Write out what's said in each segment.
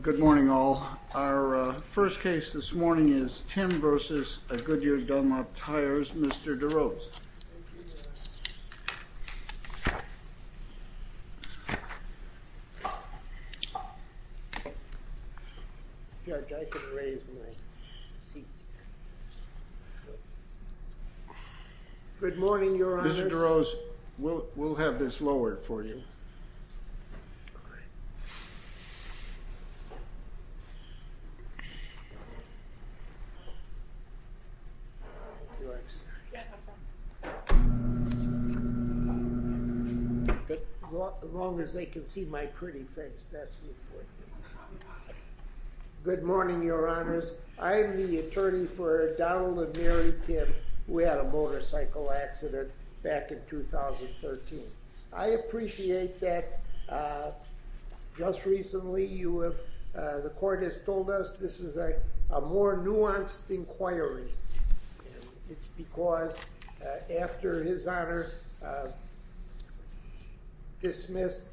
Good morning all. Our first case this morning is Timm v. Goodyear Dunlop Tires, Mr. DeRose. Mr. DeRose, we'll have this lowered for you. Good morning, Your Honors. I'm the attorney for Donald and Mary Timm. We had a motorcycle accident back in 2013. I appreciate that just recently the court has told us this is a more nuanced inquiry. It's because after his Honor dismissed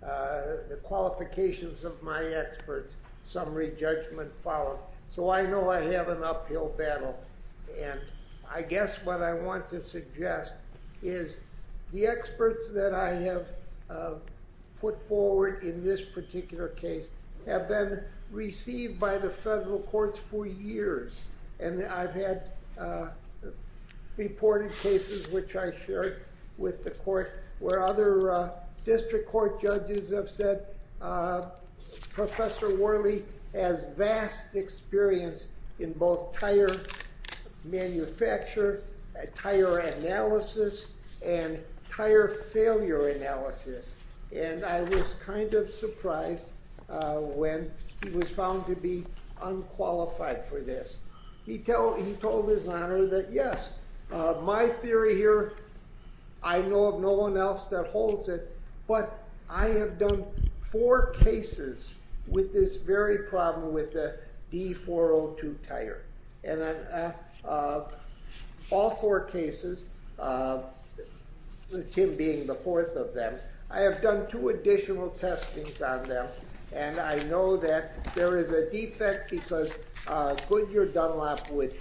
the qualifications of my experts, some re-judgment followed. So I know I have an uphill battle. And I guess what I want to suggest is the experts that I have put forward in this particular case have been received by the federal courts for years. And I've had reported cases, which I shared with the court, where other district court judges have said Professor Worley has vast experience in both tire manufacture, tire analysis, and tire failure analysis. And I was kind of surprised when he was found to be unqualified for this. He told his Honor that yes, my theory here, I know of no one else that holds it, but I have done four cases with this very problem with the D402 tire. And in all four cases, with Tim being the fourth of them, I have done two additional testings on them. And I know that there is a defect because Goodyear Dunlop would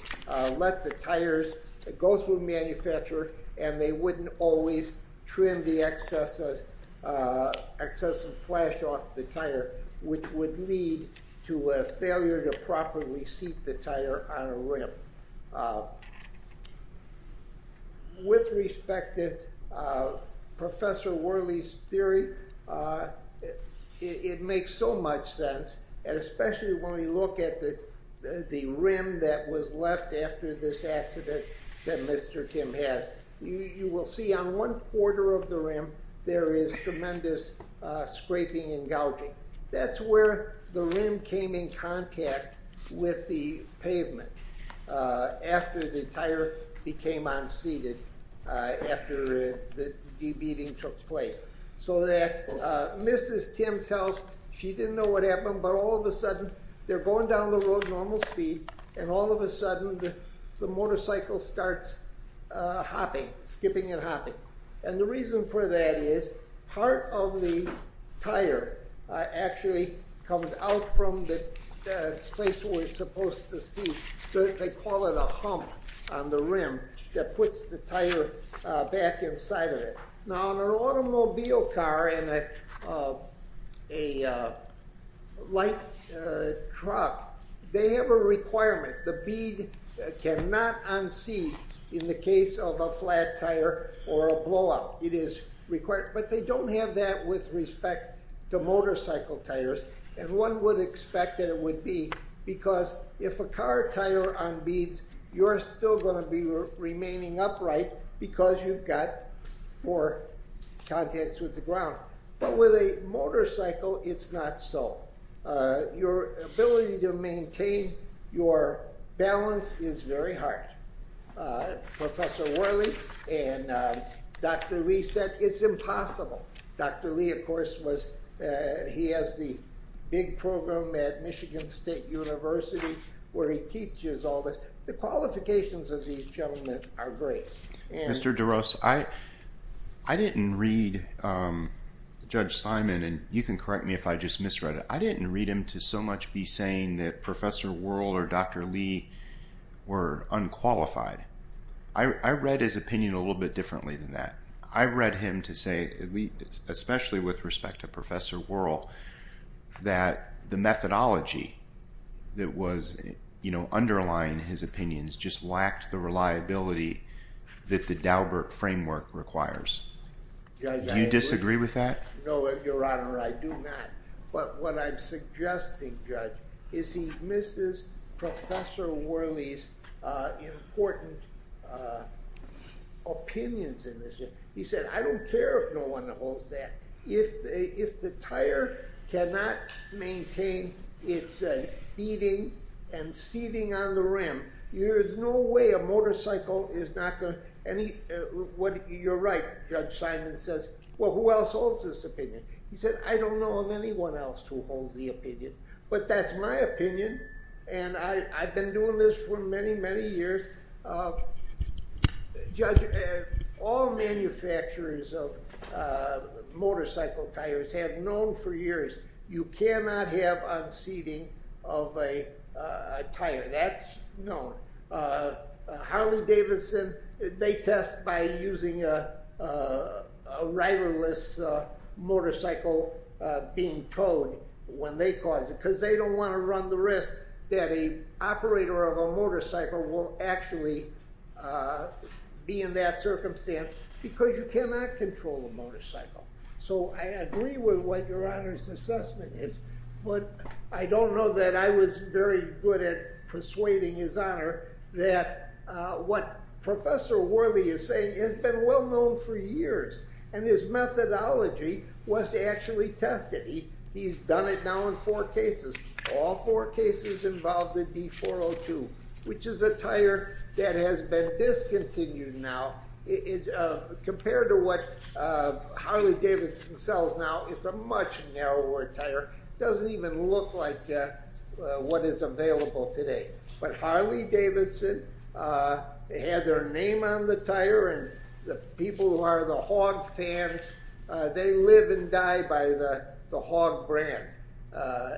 let the tires go through a manufacturer and they would have a defect, which would lead to a failure to properly seat the tire on a rim. With respect to Professor Worley's theory, it makes so much sense, especially when we look at the rim that was left after this accident that Mr. Tim has. You will see on one quarter of the rim, there is tremendous scraping and gouging. That's where the rim came in contact with the pavement after the tire became unseated after the de-beating took place. So that Mrs. Tim tells, she didn't know what happened, but all of a sudden, they're going down the road at normal speed, and all of a sudden, the motorcycle starts hopping, skipping and hopping. And the reason for that is, part of the tire actually comes out from the place where it's supposed to seat. They call it a hump on the rim that puts the tire back inside of it. Now, on an automobile car and a light truck, they have a requirement. The tire or a blowout, it is required, but they don't have that with respect to motorcycle tires. And one would expect that it would be because if a car tire unbeads, you're still going to be remaining upright because you've got four contacts with the ground. But with a motorcycle, it's not so. Your ability to maintain your balance is very hard. Professor Worley and Dr. Lee said it's impossible. Dr. Lee, of course, he has the big program at Michigan State University where he teaches all this. The qualifications of these gentlemen are great. Mr. DeRose, I didn't read Judge Simon, and you can correct me if I just misread it. I read his opinion a little bit differently than that. I read him to say, especially with respect to Professor Worley, that the methodology that was underlying his opinions just lacked the reliability that the Daubert framework requires. Do you disagree with that? No, Your Honor, I do not. But what I'm suggesting, Judge, is he misses Professor Worley's important opinions in this. He said, I don't care if no one holds that. If the tire cannot maintain its beading and seating on the rim, there's no way a motorcycle is not going to be a motorcycle. You're right, Judge Simon says. Well, who else holds this opinion? He said, I don't know of anyone else who holds the opinion. But that's my opinion, and I've been doing this for many, many years. Judge, all manufacturers of motorcycle tires have known for years you cannot have unseating of a tire. That's known. Harley Davidson, they test by using a riderless motorcycle being towed when they cause it, because they don't want to run the risk that an operator of a motorcycle will actually be in that circumstance, because you cannot control a motorcycle. So I agree with what Your Honor's assessment is, but I don't know that I was very good at persuading His Honor that what Professor Worley is saying has been well known for years, and his methodology was actually tested. He's done it now in four cases. All four cases involved the D402, which is a tire that has been discontinued now. Compared to what Harley Davidson sells now, it's a much narrower tire doesn't even look like what is available today. But Harley Davidson had their name on the tire, and the people who are the hog fans, they live and die by the hog brand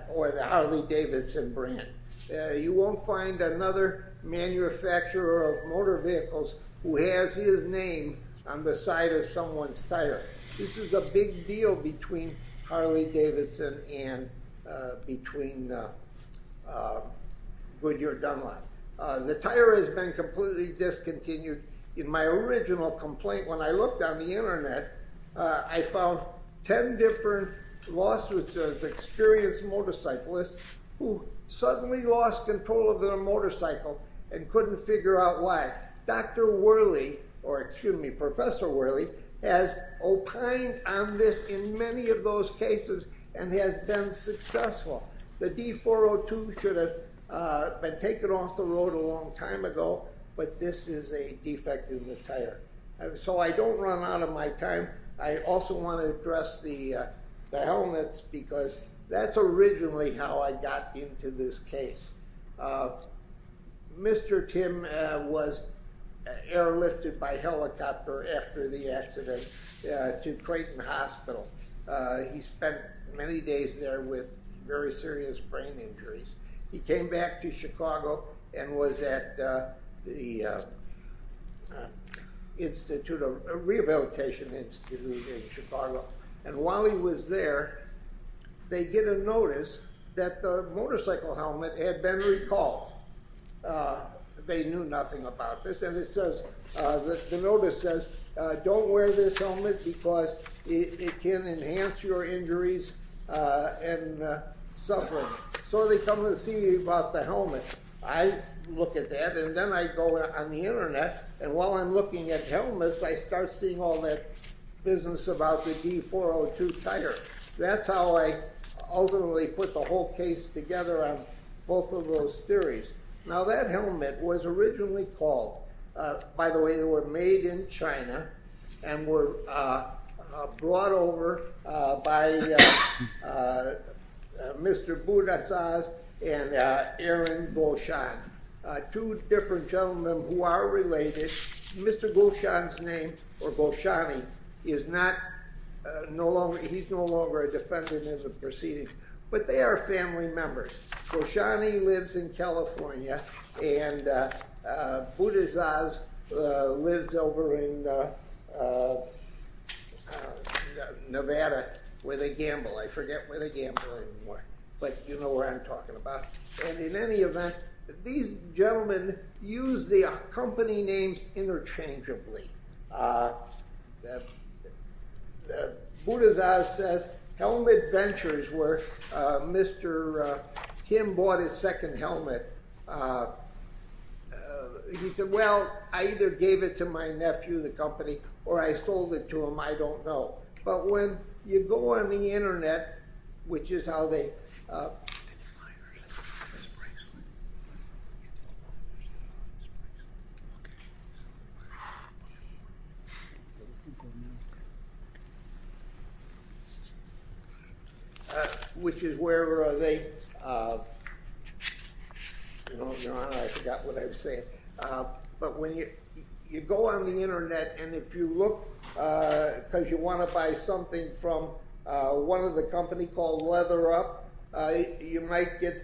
or the Harley Davidson brand. You won't find another manufacturer of motor vehicles who has his name on the side of between Goodyear Dunlop. The tire has been completely discontinued. In my original complaint, when I looked on the internet, I found 10 different lawsuits of experienced motorcyclists who suddenly lost control of their motorcycle and couldn't figure out why. Professor Worley or excuse me, Professor Worley has opined on this in many of those cases and has been successful. The D402 should have been taken off the road a long time ago, but this is a defect in the tire. So I don't run out of my time. I also want to address the helmets because that's originally how I got into this case. Mr. Tim was airlifted by helicopter after the accident to Creighton Hospital. He spent many days there with very serious brain injuries. He came back to Chicago and was at the Rehabilitation Institute in Chicago. While he was there, they get a notice that the motorcycle helmet had been recalled. They knew nothing about this. The notice says, don't wear this helmet because it can enhance your injuries and suffering. So they come to see me about the helmet. I look at that and then I go on the internet. While I'm looking at helmets, I start seeing all that business about the D402 tire. That's how I ultimately put the whole case together on both of those theories. Now that helmet was originally called, by the way, they were made in China and were brought over by Mr. Budazaz and Aaron Gulshan. Two different gentlemen who are related. Mr. Gulshan's name, or Gulshani, he's no longer a defendant as of proceedings, but they are family members. Gulshani lives in California and Budazaz lives over in Nevada, where they gamble. I forget where they gamble anymore, but you know where I'm talking about. In any event, these gentlemen use the company names interchangeably. Budazaz says helmet ventures where Mr. Kim bought his second helmet. He said, well, I either gave it to my don't know. But when you go on the internet, which is how they, I forgot what I was saying. But when you go on the internet and if you look, because you want to buy something from one of the companies called Leather Up, you might get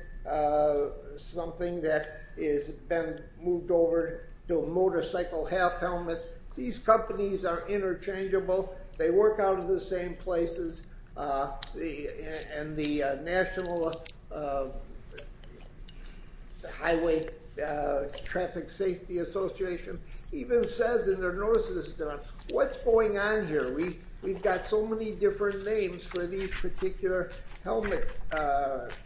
something that has been moved over to a motorcycle half helmet. These companies are interchangeable. They work out of the same places. The National Highway Traffic Safety Association even says in their notices, what's going on here? We've got so many different names for these particular helmets. But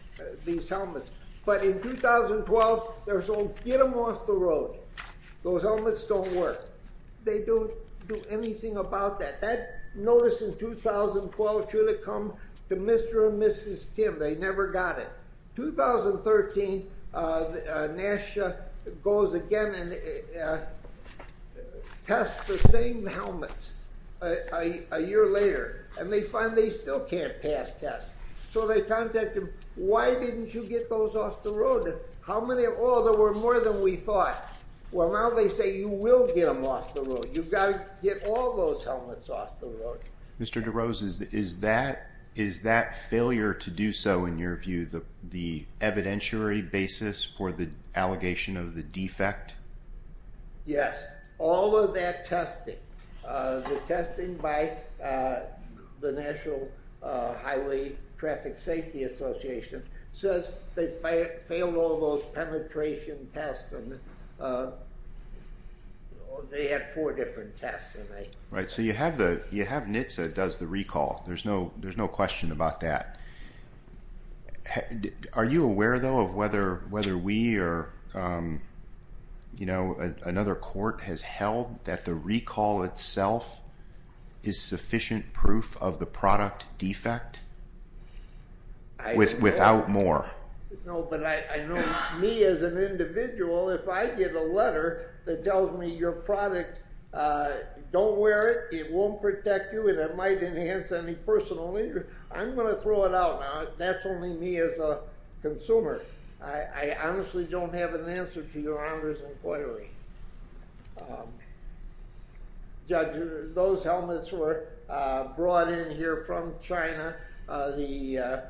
in 2012, they're told, get them off the road. Those helmets don't work. They don't do anything about that. That notice in 2012 should have come to Mr. and Mrs. Kim. They never got it. In 2013, NASA goes again and the same helmets a year later, and they find they still can't pass tests. So they contacted them. Why didn't you get those off the road? How many? Oh, there were more than we thought. Well, now they say you will get them off the road. You've got to get all those helmets off the road. Mr. DeRose, is that failure to do so, in your view, the evidentiary basis for the defect? Yes. All of that testing. The testing by the National Highway Traffic Safety Association says they failed all those penetration tests. They had four different tests. Right. So you have NHTSA does the recall. There's no question about that. Are you aware, though, of whether we or another court has held that the recall itself is sufficient proof of the product defect without more? No, but I know me as an individual, if I get a letter that tells me your product, don't wear it, it won't protect you, and it might enhance any personal interest. I'm going to throw it out now. That's only me as a consumer. I honestly don't have an answer to your Honor's inquiry. Judge, those helmets were brought in here from China. The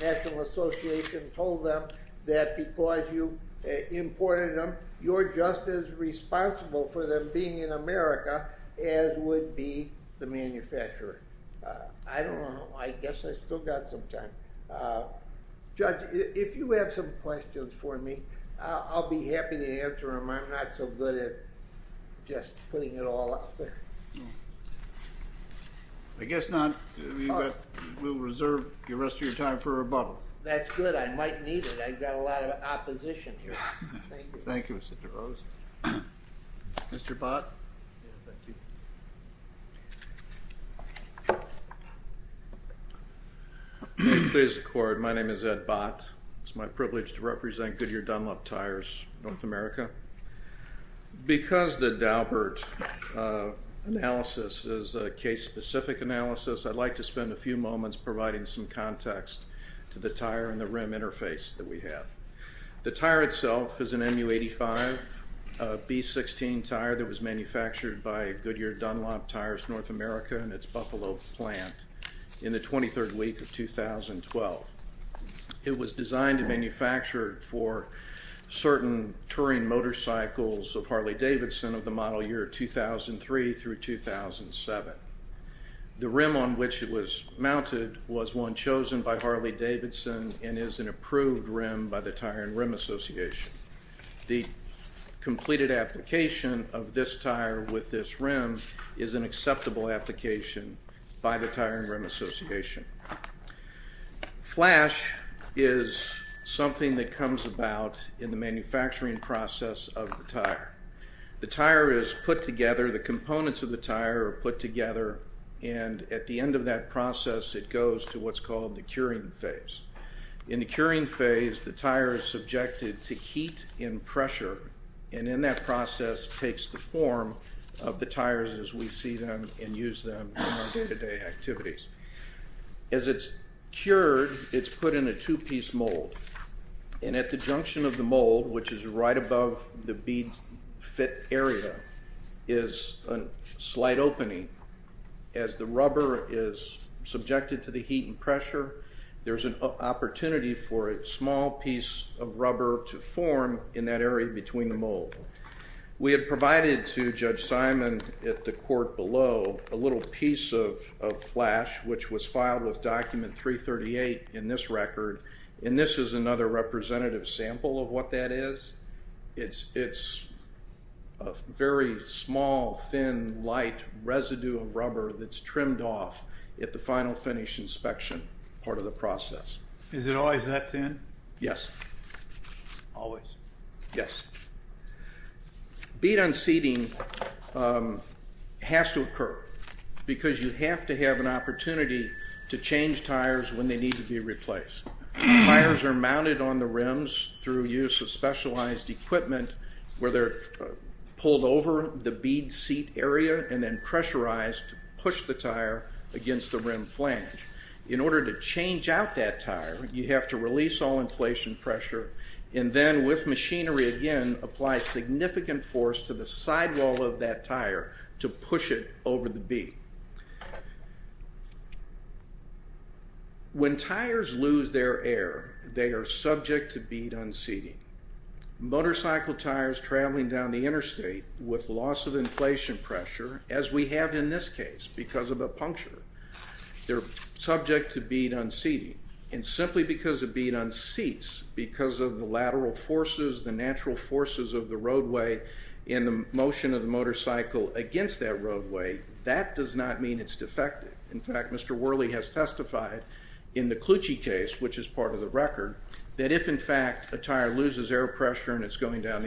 National Association told them that because you imported them, you're just as responsible for them being in America as would be the manufacturer. I don't know. I guess I still got some time. Judge, if you have some questions for me, I'll be happy to answer them. I'm not so good at just putting it all out there. I guess not. We'll reserve the rest of your time for rebuttal. That's good. I might need it. I've got a lot of opposition here. Thank you, Mr. DeRose. Mr. Bott. Please record. My name is Ed Bott. It's my privilege to represent Goodyear Dunlop Tires, North America. Because the Daubert analysis is a case-specific analysis, I'd like to spend a few minutes. The model is an MU85B16 tire that was manufactured by Goodyear Dunlop Tires, North America and its Buffalo plant in the 23rd week of 2012. It was designed and manufactured for certain touring motorcycles of Harley-Davidson of the model year 2003 through 2007. The rim on which it was mounted was one chosen by Harley-Davidson and is an approved rim by the the completed application of this tire with this rim is an acceptable application by the Tire and Rim Association. Flash is something that comes about in the manufacturing process of the tire. The tire is put together, the components of the tire are put together, and at the end of that process it goes to what's called the curing phase. In the curing phase, the tire is subjected to heat and pressure, and in that process takes the form of the tires as we see them and use them in our day-to-day activities. As it's cured, it's put in a two-piece mold and at the junction of the mold, which is right above the bead fit area, is a slight opening. As the rubber is subjected to the heat and pressure, there's an opportunity for a small piece of rubber to form in that area between the mold. We had provided to Judge Simon at the court below a little piece of Flash which was filed with Document 338 in this record, and this is another representative sample of what that is. It's a very small, thin, light residue of rubber that's trimmed off at the final finish inspection. Is it always that thin? Yes. Always? Yes. Bead unseating has to occur because you have to have an opportunity to change tires when they need to be replaced. Tires are mounted on the rims through use of specialized equipment where they're pulled over the bead seat area and then pressurized to push the tire against the rim flange. In order to change out that tire, you have to release all inflation pressure and then, with machinery again, apply significant force to the sidewall of that tire to push it over the bead. When tires lose their air, they are subject to bead unseating. Motorcycle tires traveling down the interstate with loss of inflation pressure, as we have in this case because of a puncture, they're subject to bead unseating. And simply because a bead unseats, because of the lateral forces, the natural forces of the roadway and the motion of the motorcycle against that roadway, that does not mean it's defective. In fact, Mr. Worley has testified in the Clucci case, which is part of the record, that if in fact a tire loses air pressure and it's going down the rim,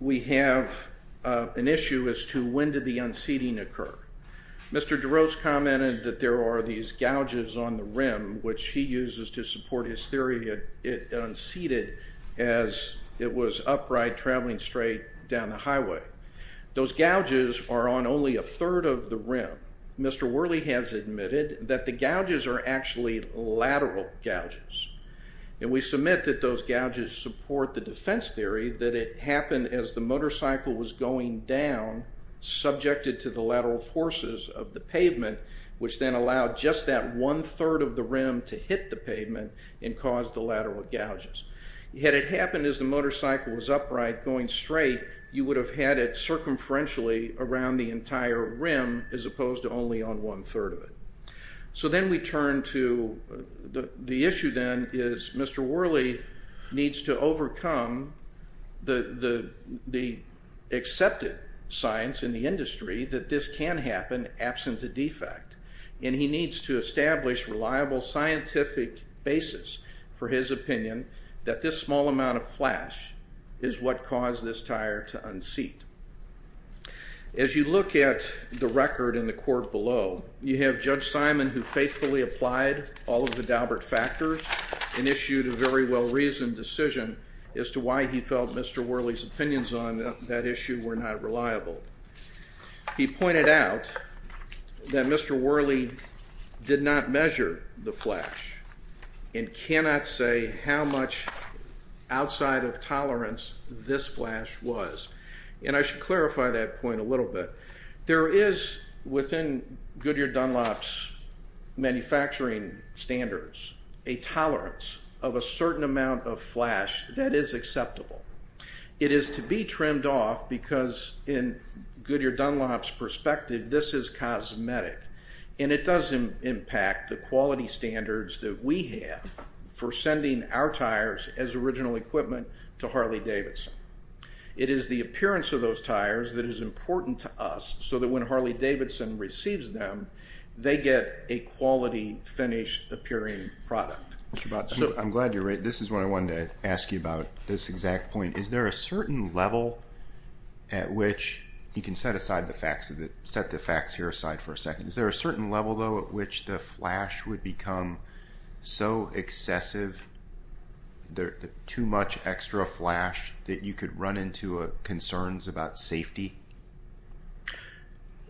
we have an issue as to when did the unseating occur. Mr. DeRose commented that there are these gouges on the rim, which he uses to support his theory it unseated as it was upright traveling straight down the highway. Those gouges are on only a third of the rim. Mr. Worley has admitted that the gouges are actually lateral gouges, and we submit that those gouges support the defense theory that it happened as the motorcycle was going down, subjected to the lateral forces of the pavement, which then allowed just that one-third of the rim to hit the pavement and caused the lateral gouges. Had it happened as the motorcycle was upright going straight, you would have had it circumferentially around the entire rim as opposed to only on one-third of it. So then we turn to the issue then is Mr. Worley needs to overcome the accepted science in the industry that this can happen absent a defect, and he needs to establish reliable scientific basis for his opinion that this small amount of flash is what caused this tire to unseat. As you look at the record in the court below, you have Judge Simon who faithfully applied all of the Daubert factors and issued a very well-reasoned decision as to why he felt Mr. Worley's opinions on that issue were not reliable. He pointed out that Mr. Worley did not measure the flash and cannot say how much outside of tolerance this flash was. And I should clarify that point a little bit. There is within Goodyear-Dunlop's manufacturing standards, a tolerance of a certain amount of flash that is acceptable. It is to be trimmed off because in Goodyear-Dunlop's perspective, this is cosmetic, and it does impact the quality standards that we have for sending our tires as original equipment to Harley-Davidson. It is the appearance of those tires that is important to us so that when Harley-Davidson receives them, they get a quality finish appearing product. I'm glad you're right. This is what I can say. You can set the facts here aside for a second. Is there a certain level though at which the flash would become so excessive, too much extra flash that you could run into concerns about safety?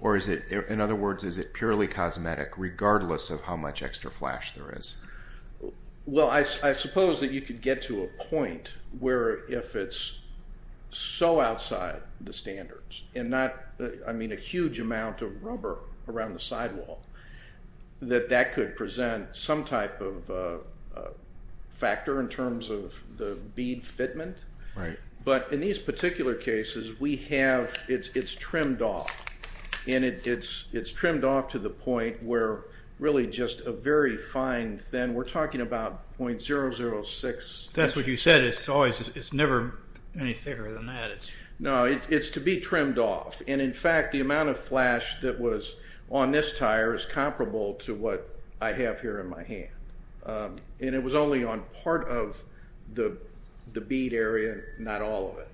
Or in other words, is it purely cosmetic regardless of how much extra flash there is? A huge amount of rubber around the sidewall, that could present some type of factor in terms of the bead fitment. But in these particular cases, it's trimmed off. And it's trimmed off to the point where really just a very fine, thin, we're talking about 0.006. That's what you said. It's never any thicker than that. No, it's to be trimmed off. And in fact, the amount of flash that was on this tire is comparable to what I have here in my hand. And it was only on part of the bead area, not all of it.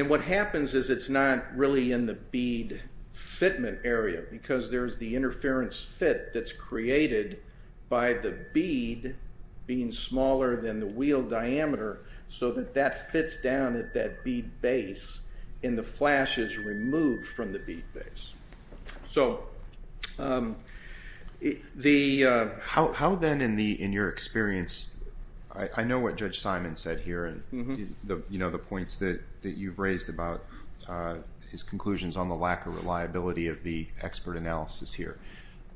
And what happens is it's not really in the bead fitment area because there's the interference fit that's created by the bead being smaller than the wheel diameter so that that fits down at that bead base and the flash is removed from the bead base. So how then in your experience, I know what Judge Simon said here and the points that you've raised about his conclusions on the lack of reliability of the expert analysis here.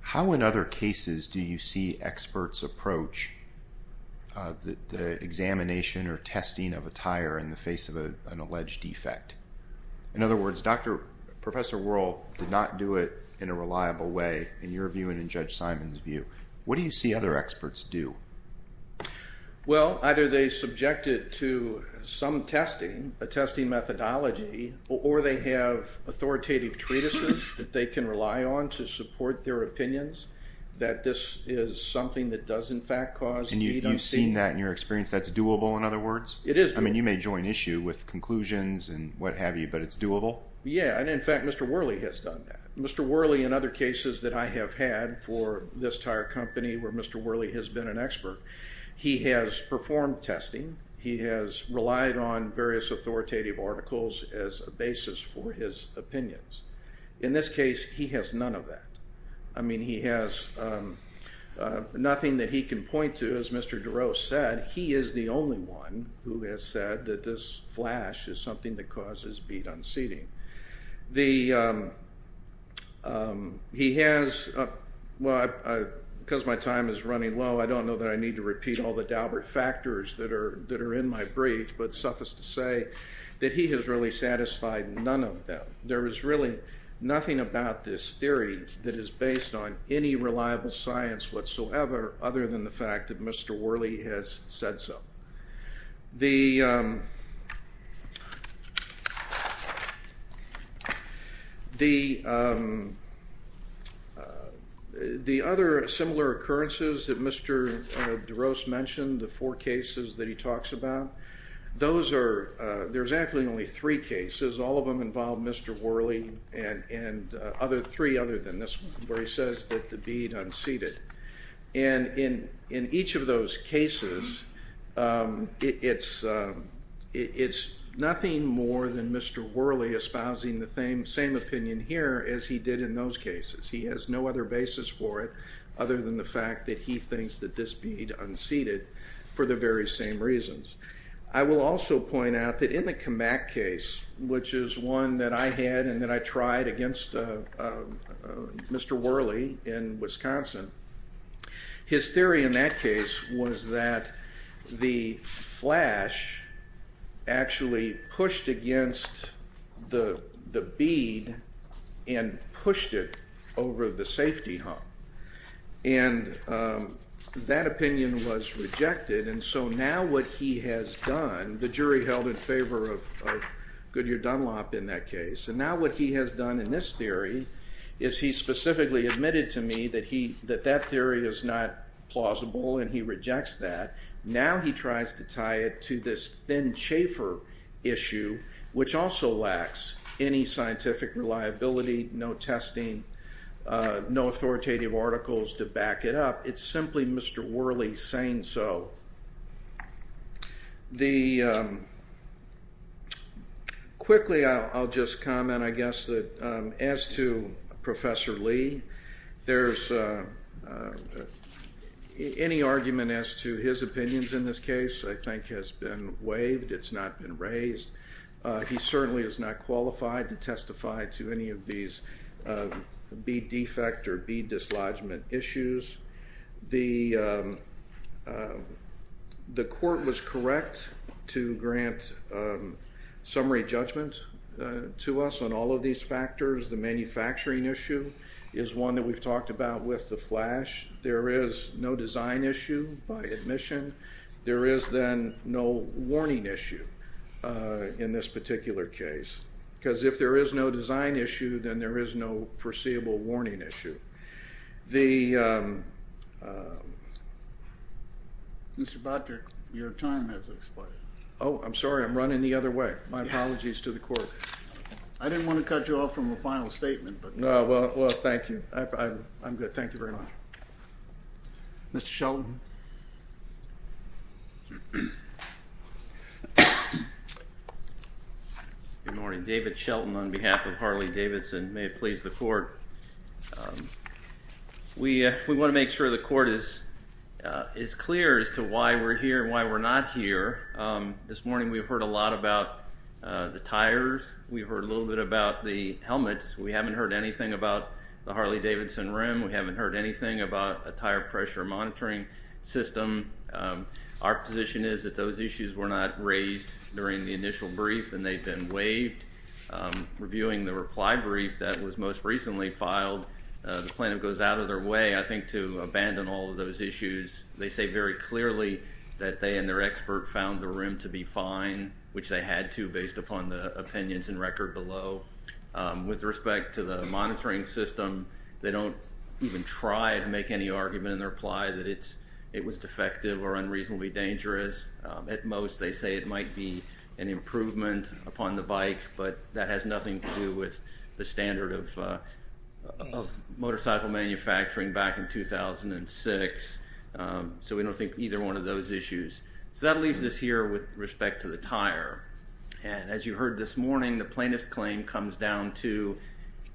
How in other cases do you see experts approach the examination or testing of a tire in the face of an alleged defect? In other words, Professor Wuerl did not do it in a reliable way in your view and in Judge Simon's view. What do you see other experts do? Well, either they subjected to some testing, a testing methodology, or they have authoritative treatises that they can rely on to support their opinions that this is something that does in fact cause... And you've seen that in your experience, that's doable in other words? It is doable. I mean, you may join issue with conclusions and what have you, but it's doable? Yeah. And in fact, Mr. Wuerl has done that. Mr. Wuerl in other cases that I have had for this tire company where Mr. Wuerl has been an expert, he has performed testing, he has relied on various authoritative articles as a basis for his opinions. In this case, he has none of that. I mean, he has nothing that he can point to, as Mr. DeRose said, he is the only one who has said that this flash is something that causes beat unseating. He has... Well, because my time is running low, I don't know that I need to repeat all the factors that are in my brief, but suffice to say that he has really satisfied none of them. There is really nothing about this theory that is based on any reliable science whatsoever, other than the fact that Mr. Wuerl has said so. The other similar occurrences that Mr. Wuerl has mentioned, the four cases that he talks about, those are... There's actually only three cases. All of them involve Mr. Wuerl and three other than this one, where he says that the beat unseated. And in each of those cases, it's nothing more than Mr. Wuerl espousing the same opinion here as he did in those cases. He has no other basis for it, other than the fact that he thinks that this beat unseated for the very same reasons. I will also point out that in the Kamak case, which is one that I had and that I tried against Mr. Wuerl in Wisconsin, his theory in that case was that the flash actually pushed against the beat and pushed it over the safety hump. And that opinion was rejected. And so now what he has done, the jury held in favor of Goodyear-Dunlop in that case. And now what he has done in this theory is he specifically admitted to me that that theory is not plausible and he rejects that. Now he tries to tie it to this Ben Chaffer issue, which also lacks any scientific reliability, no testing, no authoritative articles to back it up. It's simply Mr. Wuerl saying so. Quickly, I'll just comment, I guess, that as to Professor Lee, there's any argument as to his opinions in this case I think has been waived. It's not been raised. He certainly is not qualified to testify to any of these beat defect or beat dislodgement issues. The court was correct to grant summary judgment to us on all of these factors. The manufacturing issue is one that we've talked about with the flash. There is no design issue by admission. There is then no warning issue in this particular case. Because if there is no design issue, then there is no foreseeable warning issue. Mr. Botrick, your time has expired. Oh, I'm sorry. I'm running the other way. My apologies to the court. I didn't want to cut you off from a final statement. Well, thank you. I'm good. Thank you very much. Mr. Shelton. Good morning. David Shelton on behalf of Harley-Davidson. May it please the court. We want to make sure the court is clear as to why we're here and why we're not here. This morning we've heard a lot about the tires. We've heard a little bit about the helmets. We haven't heard anything about the Harley-Davidson rim. We haven't heard anything about a tire pressure monitoring system. Our position is that those issues were not raised during the initial brief and they've been waived. Reviewing the reply brief that was most recently filed, the plaintiff goes out of their way, I think, to abandon all of those issues. They say very clearly that they and their expert found the rim to be fine, which they had to based upon the opinions and record below. With respect to the monitoring system, they don't even try to make any argument in their reply that it was defective or unreasonably dangerous. At most, they say it might be an improvement upon the bike, but that has nothing to do with the standard of those issues. That leaves us here with respect to the tire. As you heard this morning, the plaintiff's claim comes down to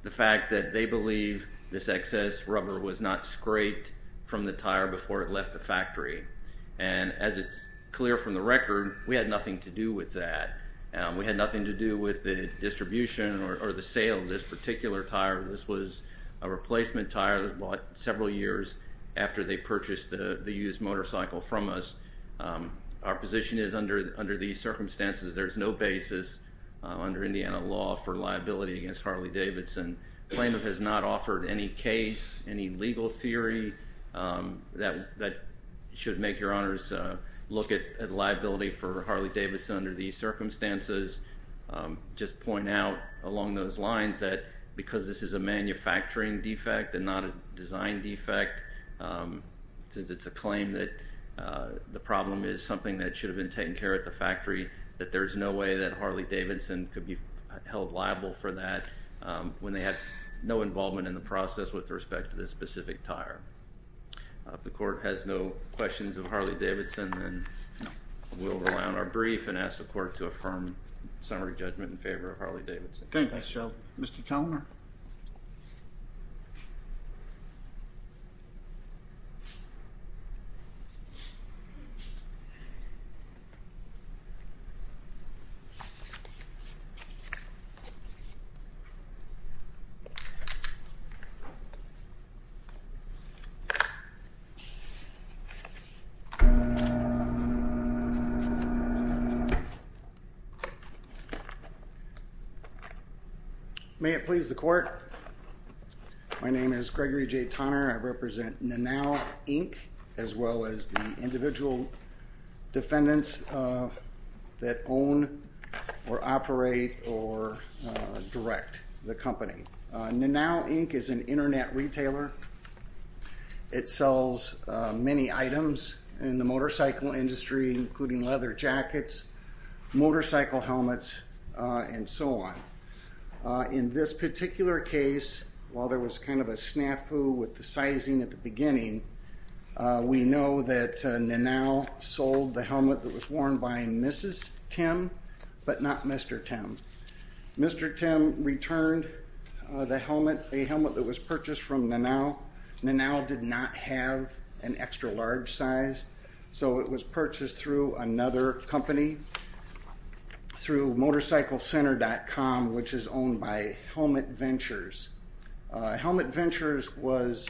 the fact that they believe this excess rubber was not scraped from the tire before it left the factory. As it's clear from the record, we had nothing to do with that. We had nothing to do with the distribution or the sale of this particular tire. This was a replacement tire that was bought several years after they purchased the used motorcycle from us. Our position is, under these circumstances, there's no basis under Indiana law for liability against Harley-Davidson. The plaintiff has not offered any case, any legal theory that should make your honors look at liability for Harley-Davidson under these circumstances. Just point out along those lines that because this is a manufacturing defect and not a design defect, since it's a claim that the problem is something that should have been taken care of at the factory, that there's no way that Harley-Davidson could be held liable for that when they had no involvement in the process with respect to this specific tire. If the court has no questions of Harley-Davidson, then we'll round our brief and ask the court to affirm summary judgment in favor of Harley-Davidson. Thank you, Mr. Kellner. May it please the court. My name is Gregory J. Tonner. I represent Nanal, Inc., as well as the individual defendants that own or operate or direct the company. Nanal, Inc. is an internet retailer. It sells many items in the motorcycle industry, including leather jackets, motorcycle helmets, and so on. In this particular case, while there was kind of a snafu with the sizing at the beginning, we know that Nanal sold the helmet that was worn by Mrs. Tim, but not Mr. Tim. Mr. Tim returned the helmet, a helmet that was purchased from Nanal. Nanal did not have an extra large size, so it was purchased through another company through MotorcycleCenter.com, which is owned by Helmet Ventures. Helmet Ventures was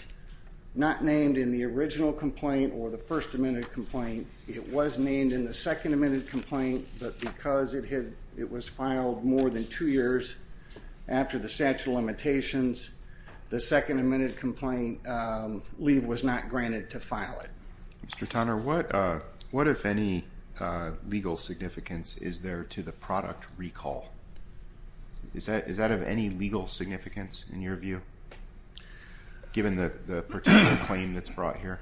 not named in the original complaint or the first amended complaint. It was named in the second amended complaint, but because it was filed more than two years after the statute of limitations, the second amended complaint leave was not granted to file it. Mr. Tonner, what if any legal significance is there to the product recall? Is that of any legal significance in your view, given the particular claim that's brought here?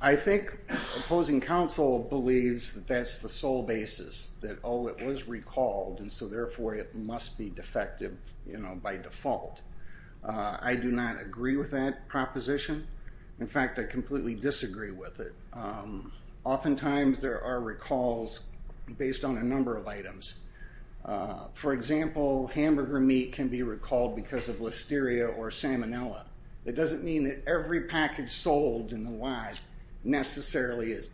I think opposing counsel believes that that's the sole basis, that, oh, it was by default. I do not agree with that proposition. In fact, I completely disagree with it. Oftentimes, there are recalls based on a number of items. For example, hamburger meat can be recalled because of listeria or salmonella. It doesn't mean that every package sold in the wide necessarily is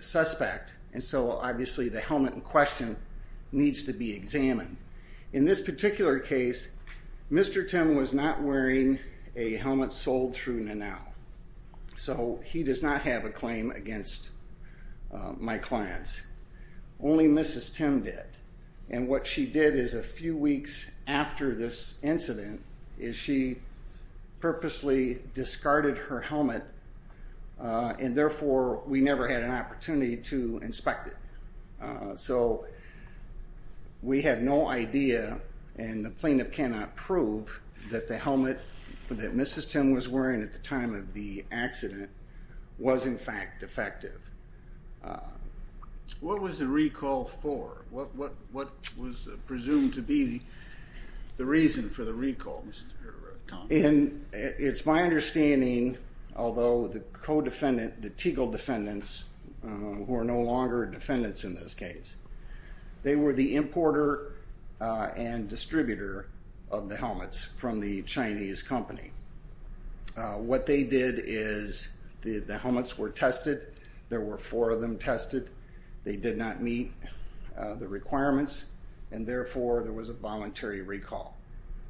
suspect, and so obviously the helmet in question needs to be examined. In this particular case, Mr. Tim was not wearing a helmet sold through Nanal, so he does not have a claim against my clients. Only Mrs. Tim did, and what she did is a few weeks after this incident is she purposely discarded her helmet, and therefore we never had an opportunity to inspect it. So we have no idea, and the plaintiff cannot prove that the helmet that Mrs. Tim was wearing at the time of the accident was in fact defective. What was the recall for? What was it? It's my understanding, although the co-defendant, the Teagle defendants, who are no longer defendants in this case, they were the importer and distributor of the helmets from the Chinese company. What they did is the helmets were tested. There were four of them tested. They did not meet the requirements, and therefore there was a voluntary recall.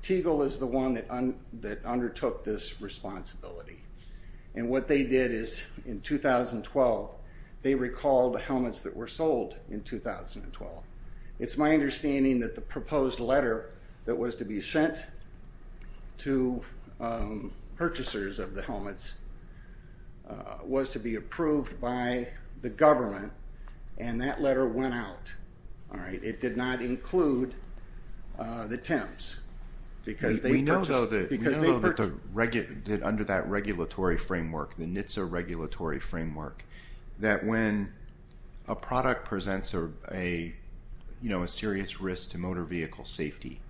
Teagle is the one that undertook this responsibility, and what they did is in 2012 they recalled helmets that were sold in 2012. It's my understanding that the proposed letter that was to be sent to purchasers of the helmets was to be approved by the government, and that letter went out. It did not include the Tims because they purchased... We know though that under that regulatory framework, the NHTSA regulatory framework, that when a product presents a serious risk to motor vehicle safety,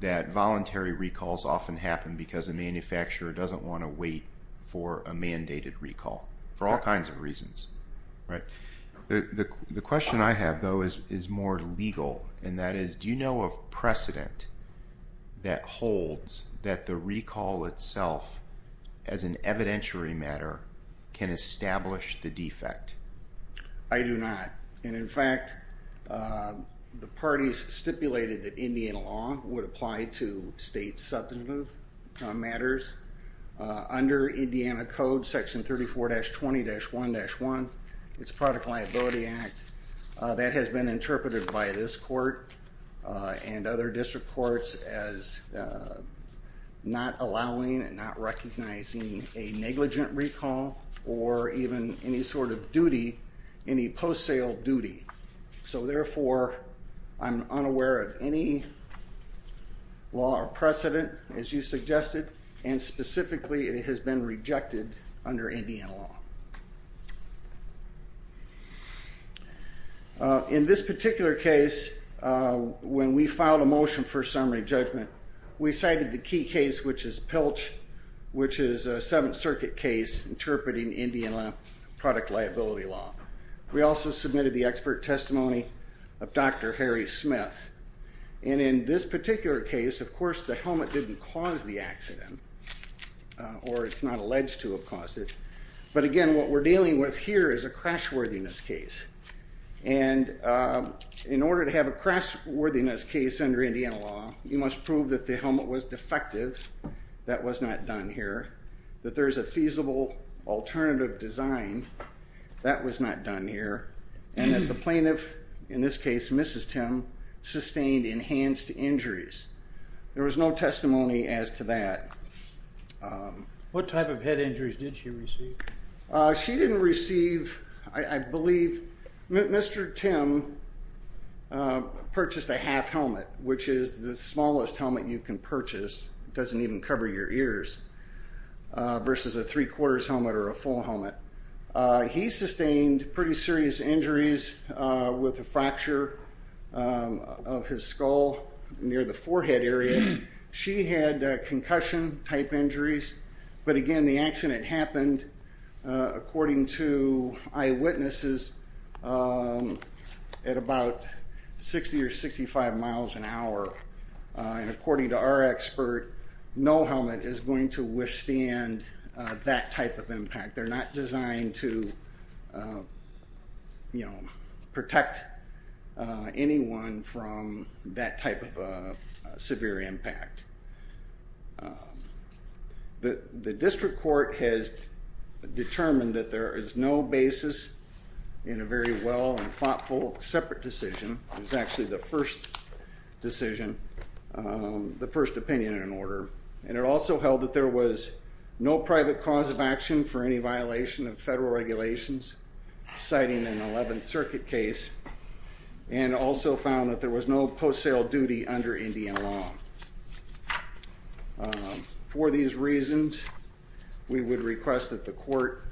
that voluntary recalls often happen because a manufacturer doesn't want to wait for a mandated recall for all kinds of The question I have though is more legal, and that is do you know of precedent that holds that the recall itself as an evidentiary matter can establish the defect? I do not, and in fact the parties stipulated that Indiana law would apply to state substantive matters. Under Indiana code section 34-20-1-1, it's a product liability act, that has been interpreted by this court and other district courts as not allowing and not recognizing a negligent recall or even any sort of duty, any post-sale duty. So therefore I'm unaware of any law or precedent as you In this particular case, when we filed a motion for summary judgment, we cited the key case, which is Pilch, which is a Seventh Circuit case interpreting Indiana product liability law. We also submitted the expert testimony of Dr. Harry Smith, and in this particular case, of course the helmet didn't cause the accident, or it's not alleged to have caused it, but again what we're dealing with here is a crash worthiness case, and in order to have a crash worthiness case under Indiana law, you must prove that the helmet was defective, that was not done here, that there is a feasible alternative design, that was not done here, and that the plaintiff, in this case Mrs. Tim, sustained enhanced injuries. There was no testimony as to that. What type of head injuries did she receive? She didn't receive, I believe, Mr. Tim purchased a half helmet, which is the smallest helmet you can purchase, doesn't even cover your ears, versus a three-quarters helmet or a full helmet. He sustained pretty serious injuries with a fracture of his skull near the forehead area. She had concussion type injuries, but again the accident happened, according to eyewitnesses, at about 60 or 65 miles an hour, and according to our expert, no helmet is going to withstand that type of impact. They're not designed to, you know, protect anyone from that type of a severe impact. The district court has determined that there is no basis in a very well and thoughtful separate decision, it was actually the first decision, the first opinion in order, and it cited an 11th circuit case and also found that there was no post-sale duty under Indian law. For these reasons, we would request that the court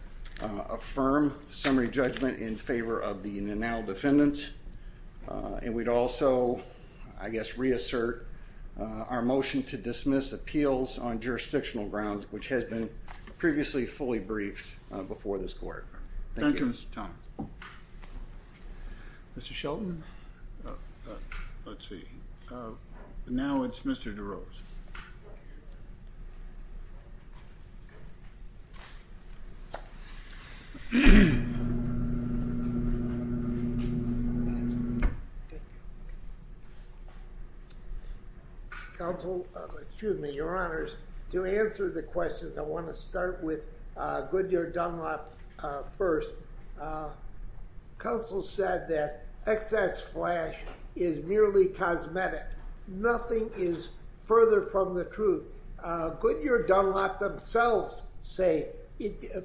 affirm summary judgment in favor of the Nenal defendants, and we'd also, I guess, reassert our motion to dismiss appeals on jurisdictional grounds, which has been previously fully briefed before this court. Thank you, Mr. Tom. Mr. Shelton. Let's see, now it's Mr. DeRose. Excuse me, your honors. To answer the questions, I want to start with Goodyear Dunlop first. Council said that excess flash is merely cosmetic. Nothing is further from the truth. Goodyear Dunlop themselves say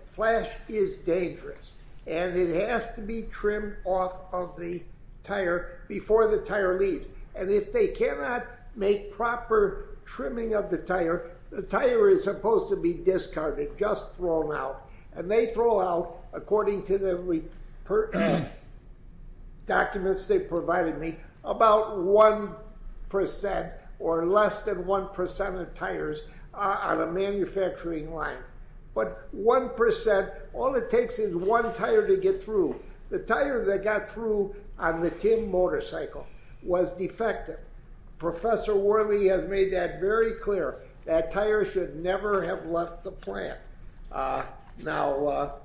flash is dangerous, and it has to be trimmed off of the tire before the tire leaves, and if they cannot make proper trimming of the tire, the tire is supposed to be repaired. Documents they provided me, about 1% or less than 1% of tires on a manufacturing line, but 1%, all it takes is one tire to get through. The tire that got through on the tin motorcycle was defective. Professor Worley has made that very clear. That tire should never have left the plant. Now,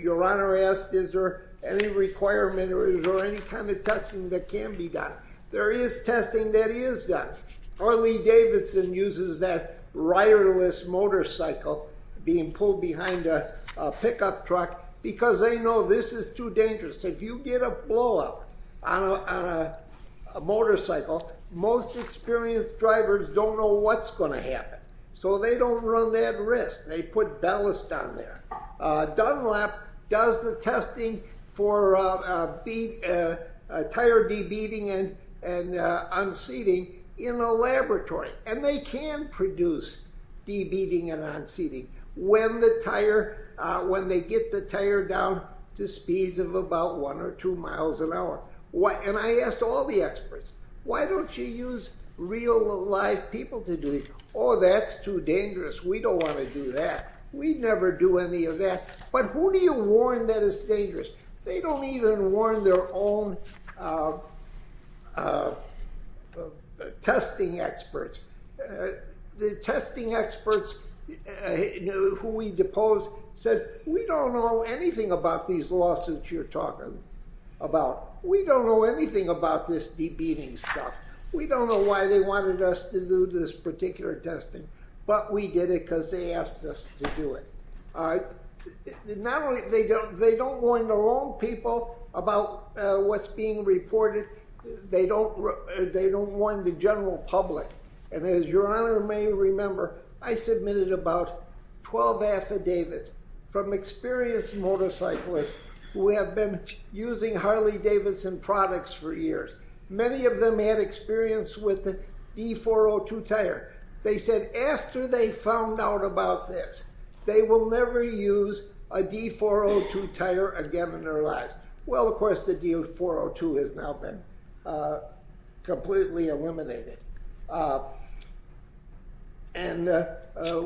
your honor asked, is there any requirement, or is there any kind of testing that can be done? There is testing that is done. Harley Davidson uses that riderless motorcycle being pulled behind a pickup truck because they know this is too dangerous. If you get a blowout on a motorcycle, most experienced drivers don't know what's going to happen, so they don't run that risk. They put ballast on there. Dunlop does the testing for tire de-beating and unseating in a laboratory, and they can produce de-beating and unseating when they get the tire down to speeds of about one or two miles an hour. I asked all the experts, why don't you use real, live people to do it? Oh, that's too dangerous. We don't want to do that. We'd never do any of that, but who do you warn that is dangerous? They don't even warn their own testing experts. The testing experts who we deposed said, we don't know anything about these lawsuits you're talking about. We don't know anything about this de-beating stuff. We don't know why they wanted us to do this particular testing, but we did it because they asked us to do it. They don't warn their own people about what's being reported. They don't warn the general public, and as your honor may remember, I submitted about 12 affidavits from experienced motorcyclists who have been using Harley-Davidson products for years. Many of them had experience with the D402 tire. They said after they found out about this, they will never use a D402 tire again in their lives. Of course, the D402 has now been completely eliminated.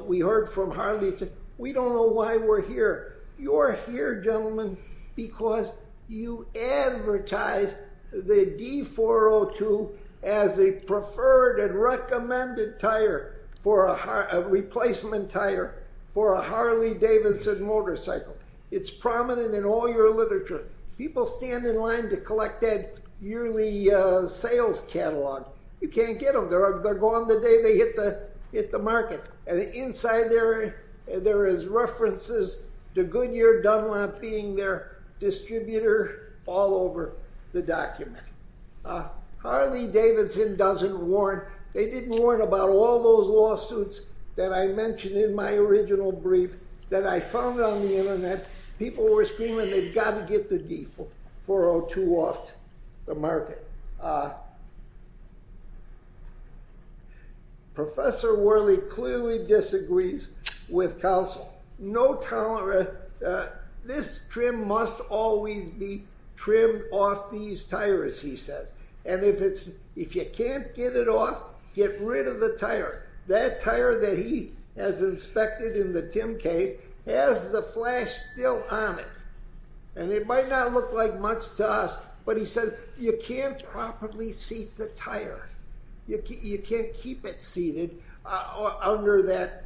We heard from Harley, we don't know why we're here. You're here, gentlemen, because you advertise the D402 as a preferred and recommended tire, a replacement tire for a Harley-Davidson motorcycle. It's prominent in all your literature. People stand in line to collect that yearly sales catalog. You can't get them. They're gone the day they hit the market, and inside there is references to Goodyear Dunlop being their distributor all over the document. Harley-Davidson doesn't warn. They didn't warn about all those lawsuits that I mentioned in my original brief that I found on the internet. People were screaming, they've got to get the D402 off the market. Professor Worley clearly disagrees with counsel. This trim must always be trimmed off these tires, he says. If you can't get it off, get rid of the tire. That tire that he has inspected in the Tim case has the flash still on it. It might not look like much to us, but he says you can't properly seat the tire. You can't keep it seated under that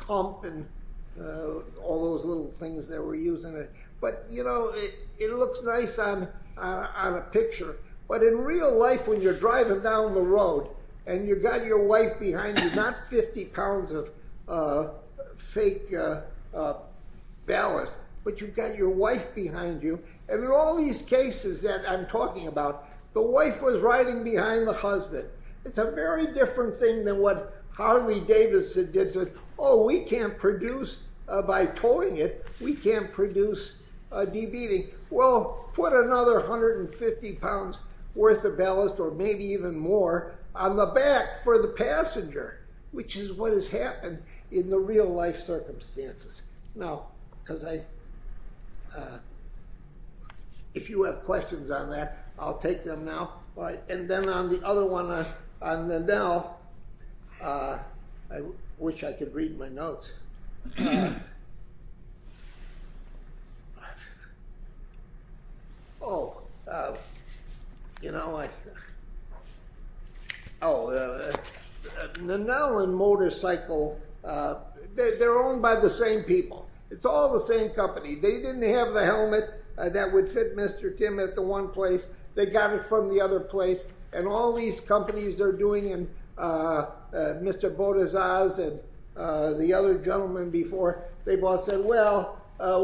hump and all those little things that were using it. It looks nice on a picture, but in real life when you're driving down the road and you've got your wife behind you, not 50 pounds of fake ballast, but you've got your wife behind you. In all these cases that I'm talking about, the wife was riding behind the husband. It's a very different thing than what Harley-Davidson did. Oh, we can't produce by towing it. We can't produce a 150 pounds worth of ballast or maybe even more on the back for the passenger, which is what has happened in the real life circumstances. If you have questions on that, I'll take them now. Then on the other one, on the now, I wish I could read my notes. Oh, you know, like, oh, the Nolan motorcycle, they're owned by the same people. It's all the same company. They didn't have the helmet that would fit Mr. Tim at the one place. They got it the other place. All these companies are doing, and Mr. Botezaz and the other gentlemen before, they've all said, well,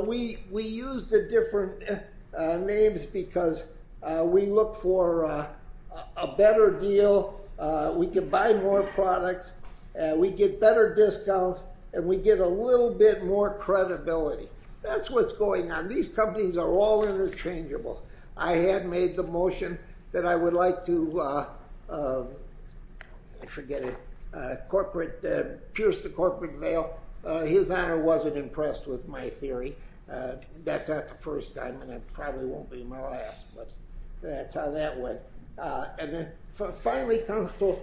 we use the different names because we look for a better deal. We can buy more products. We get better discounts, and we get a little bit more credibility. That's what's going on. These companies are all interchangeable. I had made the motion that I would like to, I forget it, pierce the corporate veil. His honor wasn't impressed with my theory. That's not the first time, and it probably won't be my last, but that's how that went. Finally, counsel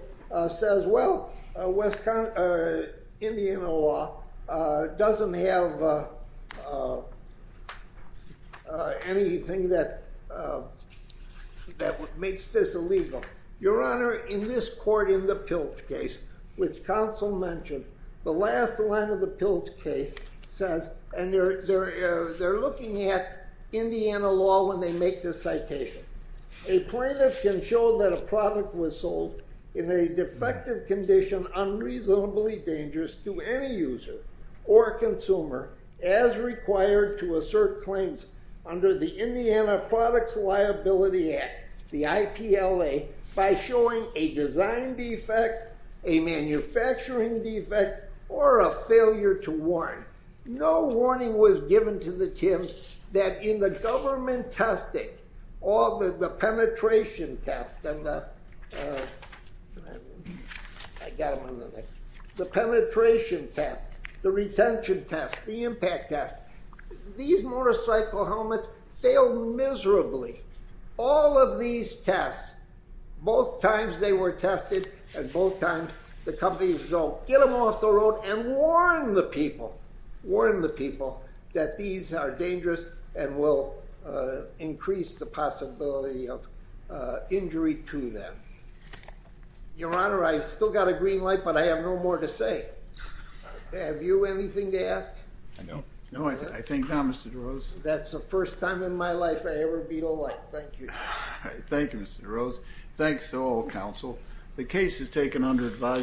says, well, Indiana law doesn't have anything that makes this illegal. Your honor, in this court in the Pilch case, which counsel mentioned, the last line of the Pilch case says, and they're looking at Indiana law when they make this citation, a plaintiff can show that a product was sold in a defective condition unreasonably dangerous to any user or consumer as required to assert claims under the Indiana Products Liability Act, the IPLA, by showing a design defect, a manufacturing defect, or a failure to warn. No warning was given to the Tims that in the government testing, all the penetration tests, the retention tests, the impact tests, these motorcycle helmets fail miserably. All of these tests, both times they were tested, and both times the companies go get them off the road and warn the people, warn the people that these are dangerous and will increase the possibility of injury to them. Your honor, I still got a green light, but I have no more to say. Have you anything to ask? I don't. No, I think not, Mr. DeRose. That's the first time in my life I ever beat a light. Thank you. Thank you, Mr. DeRose. Thanks to all counsel. The case is taken under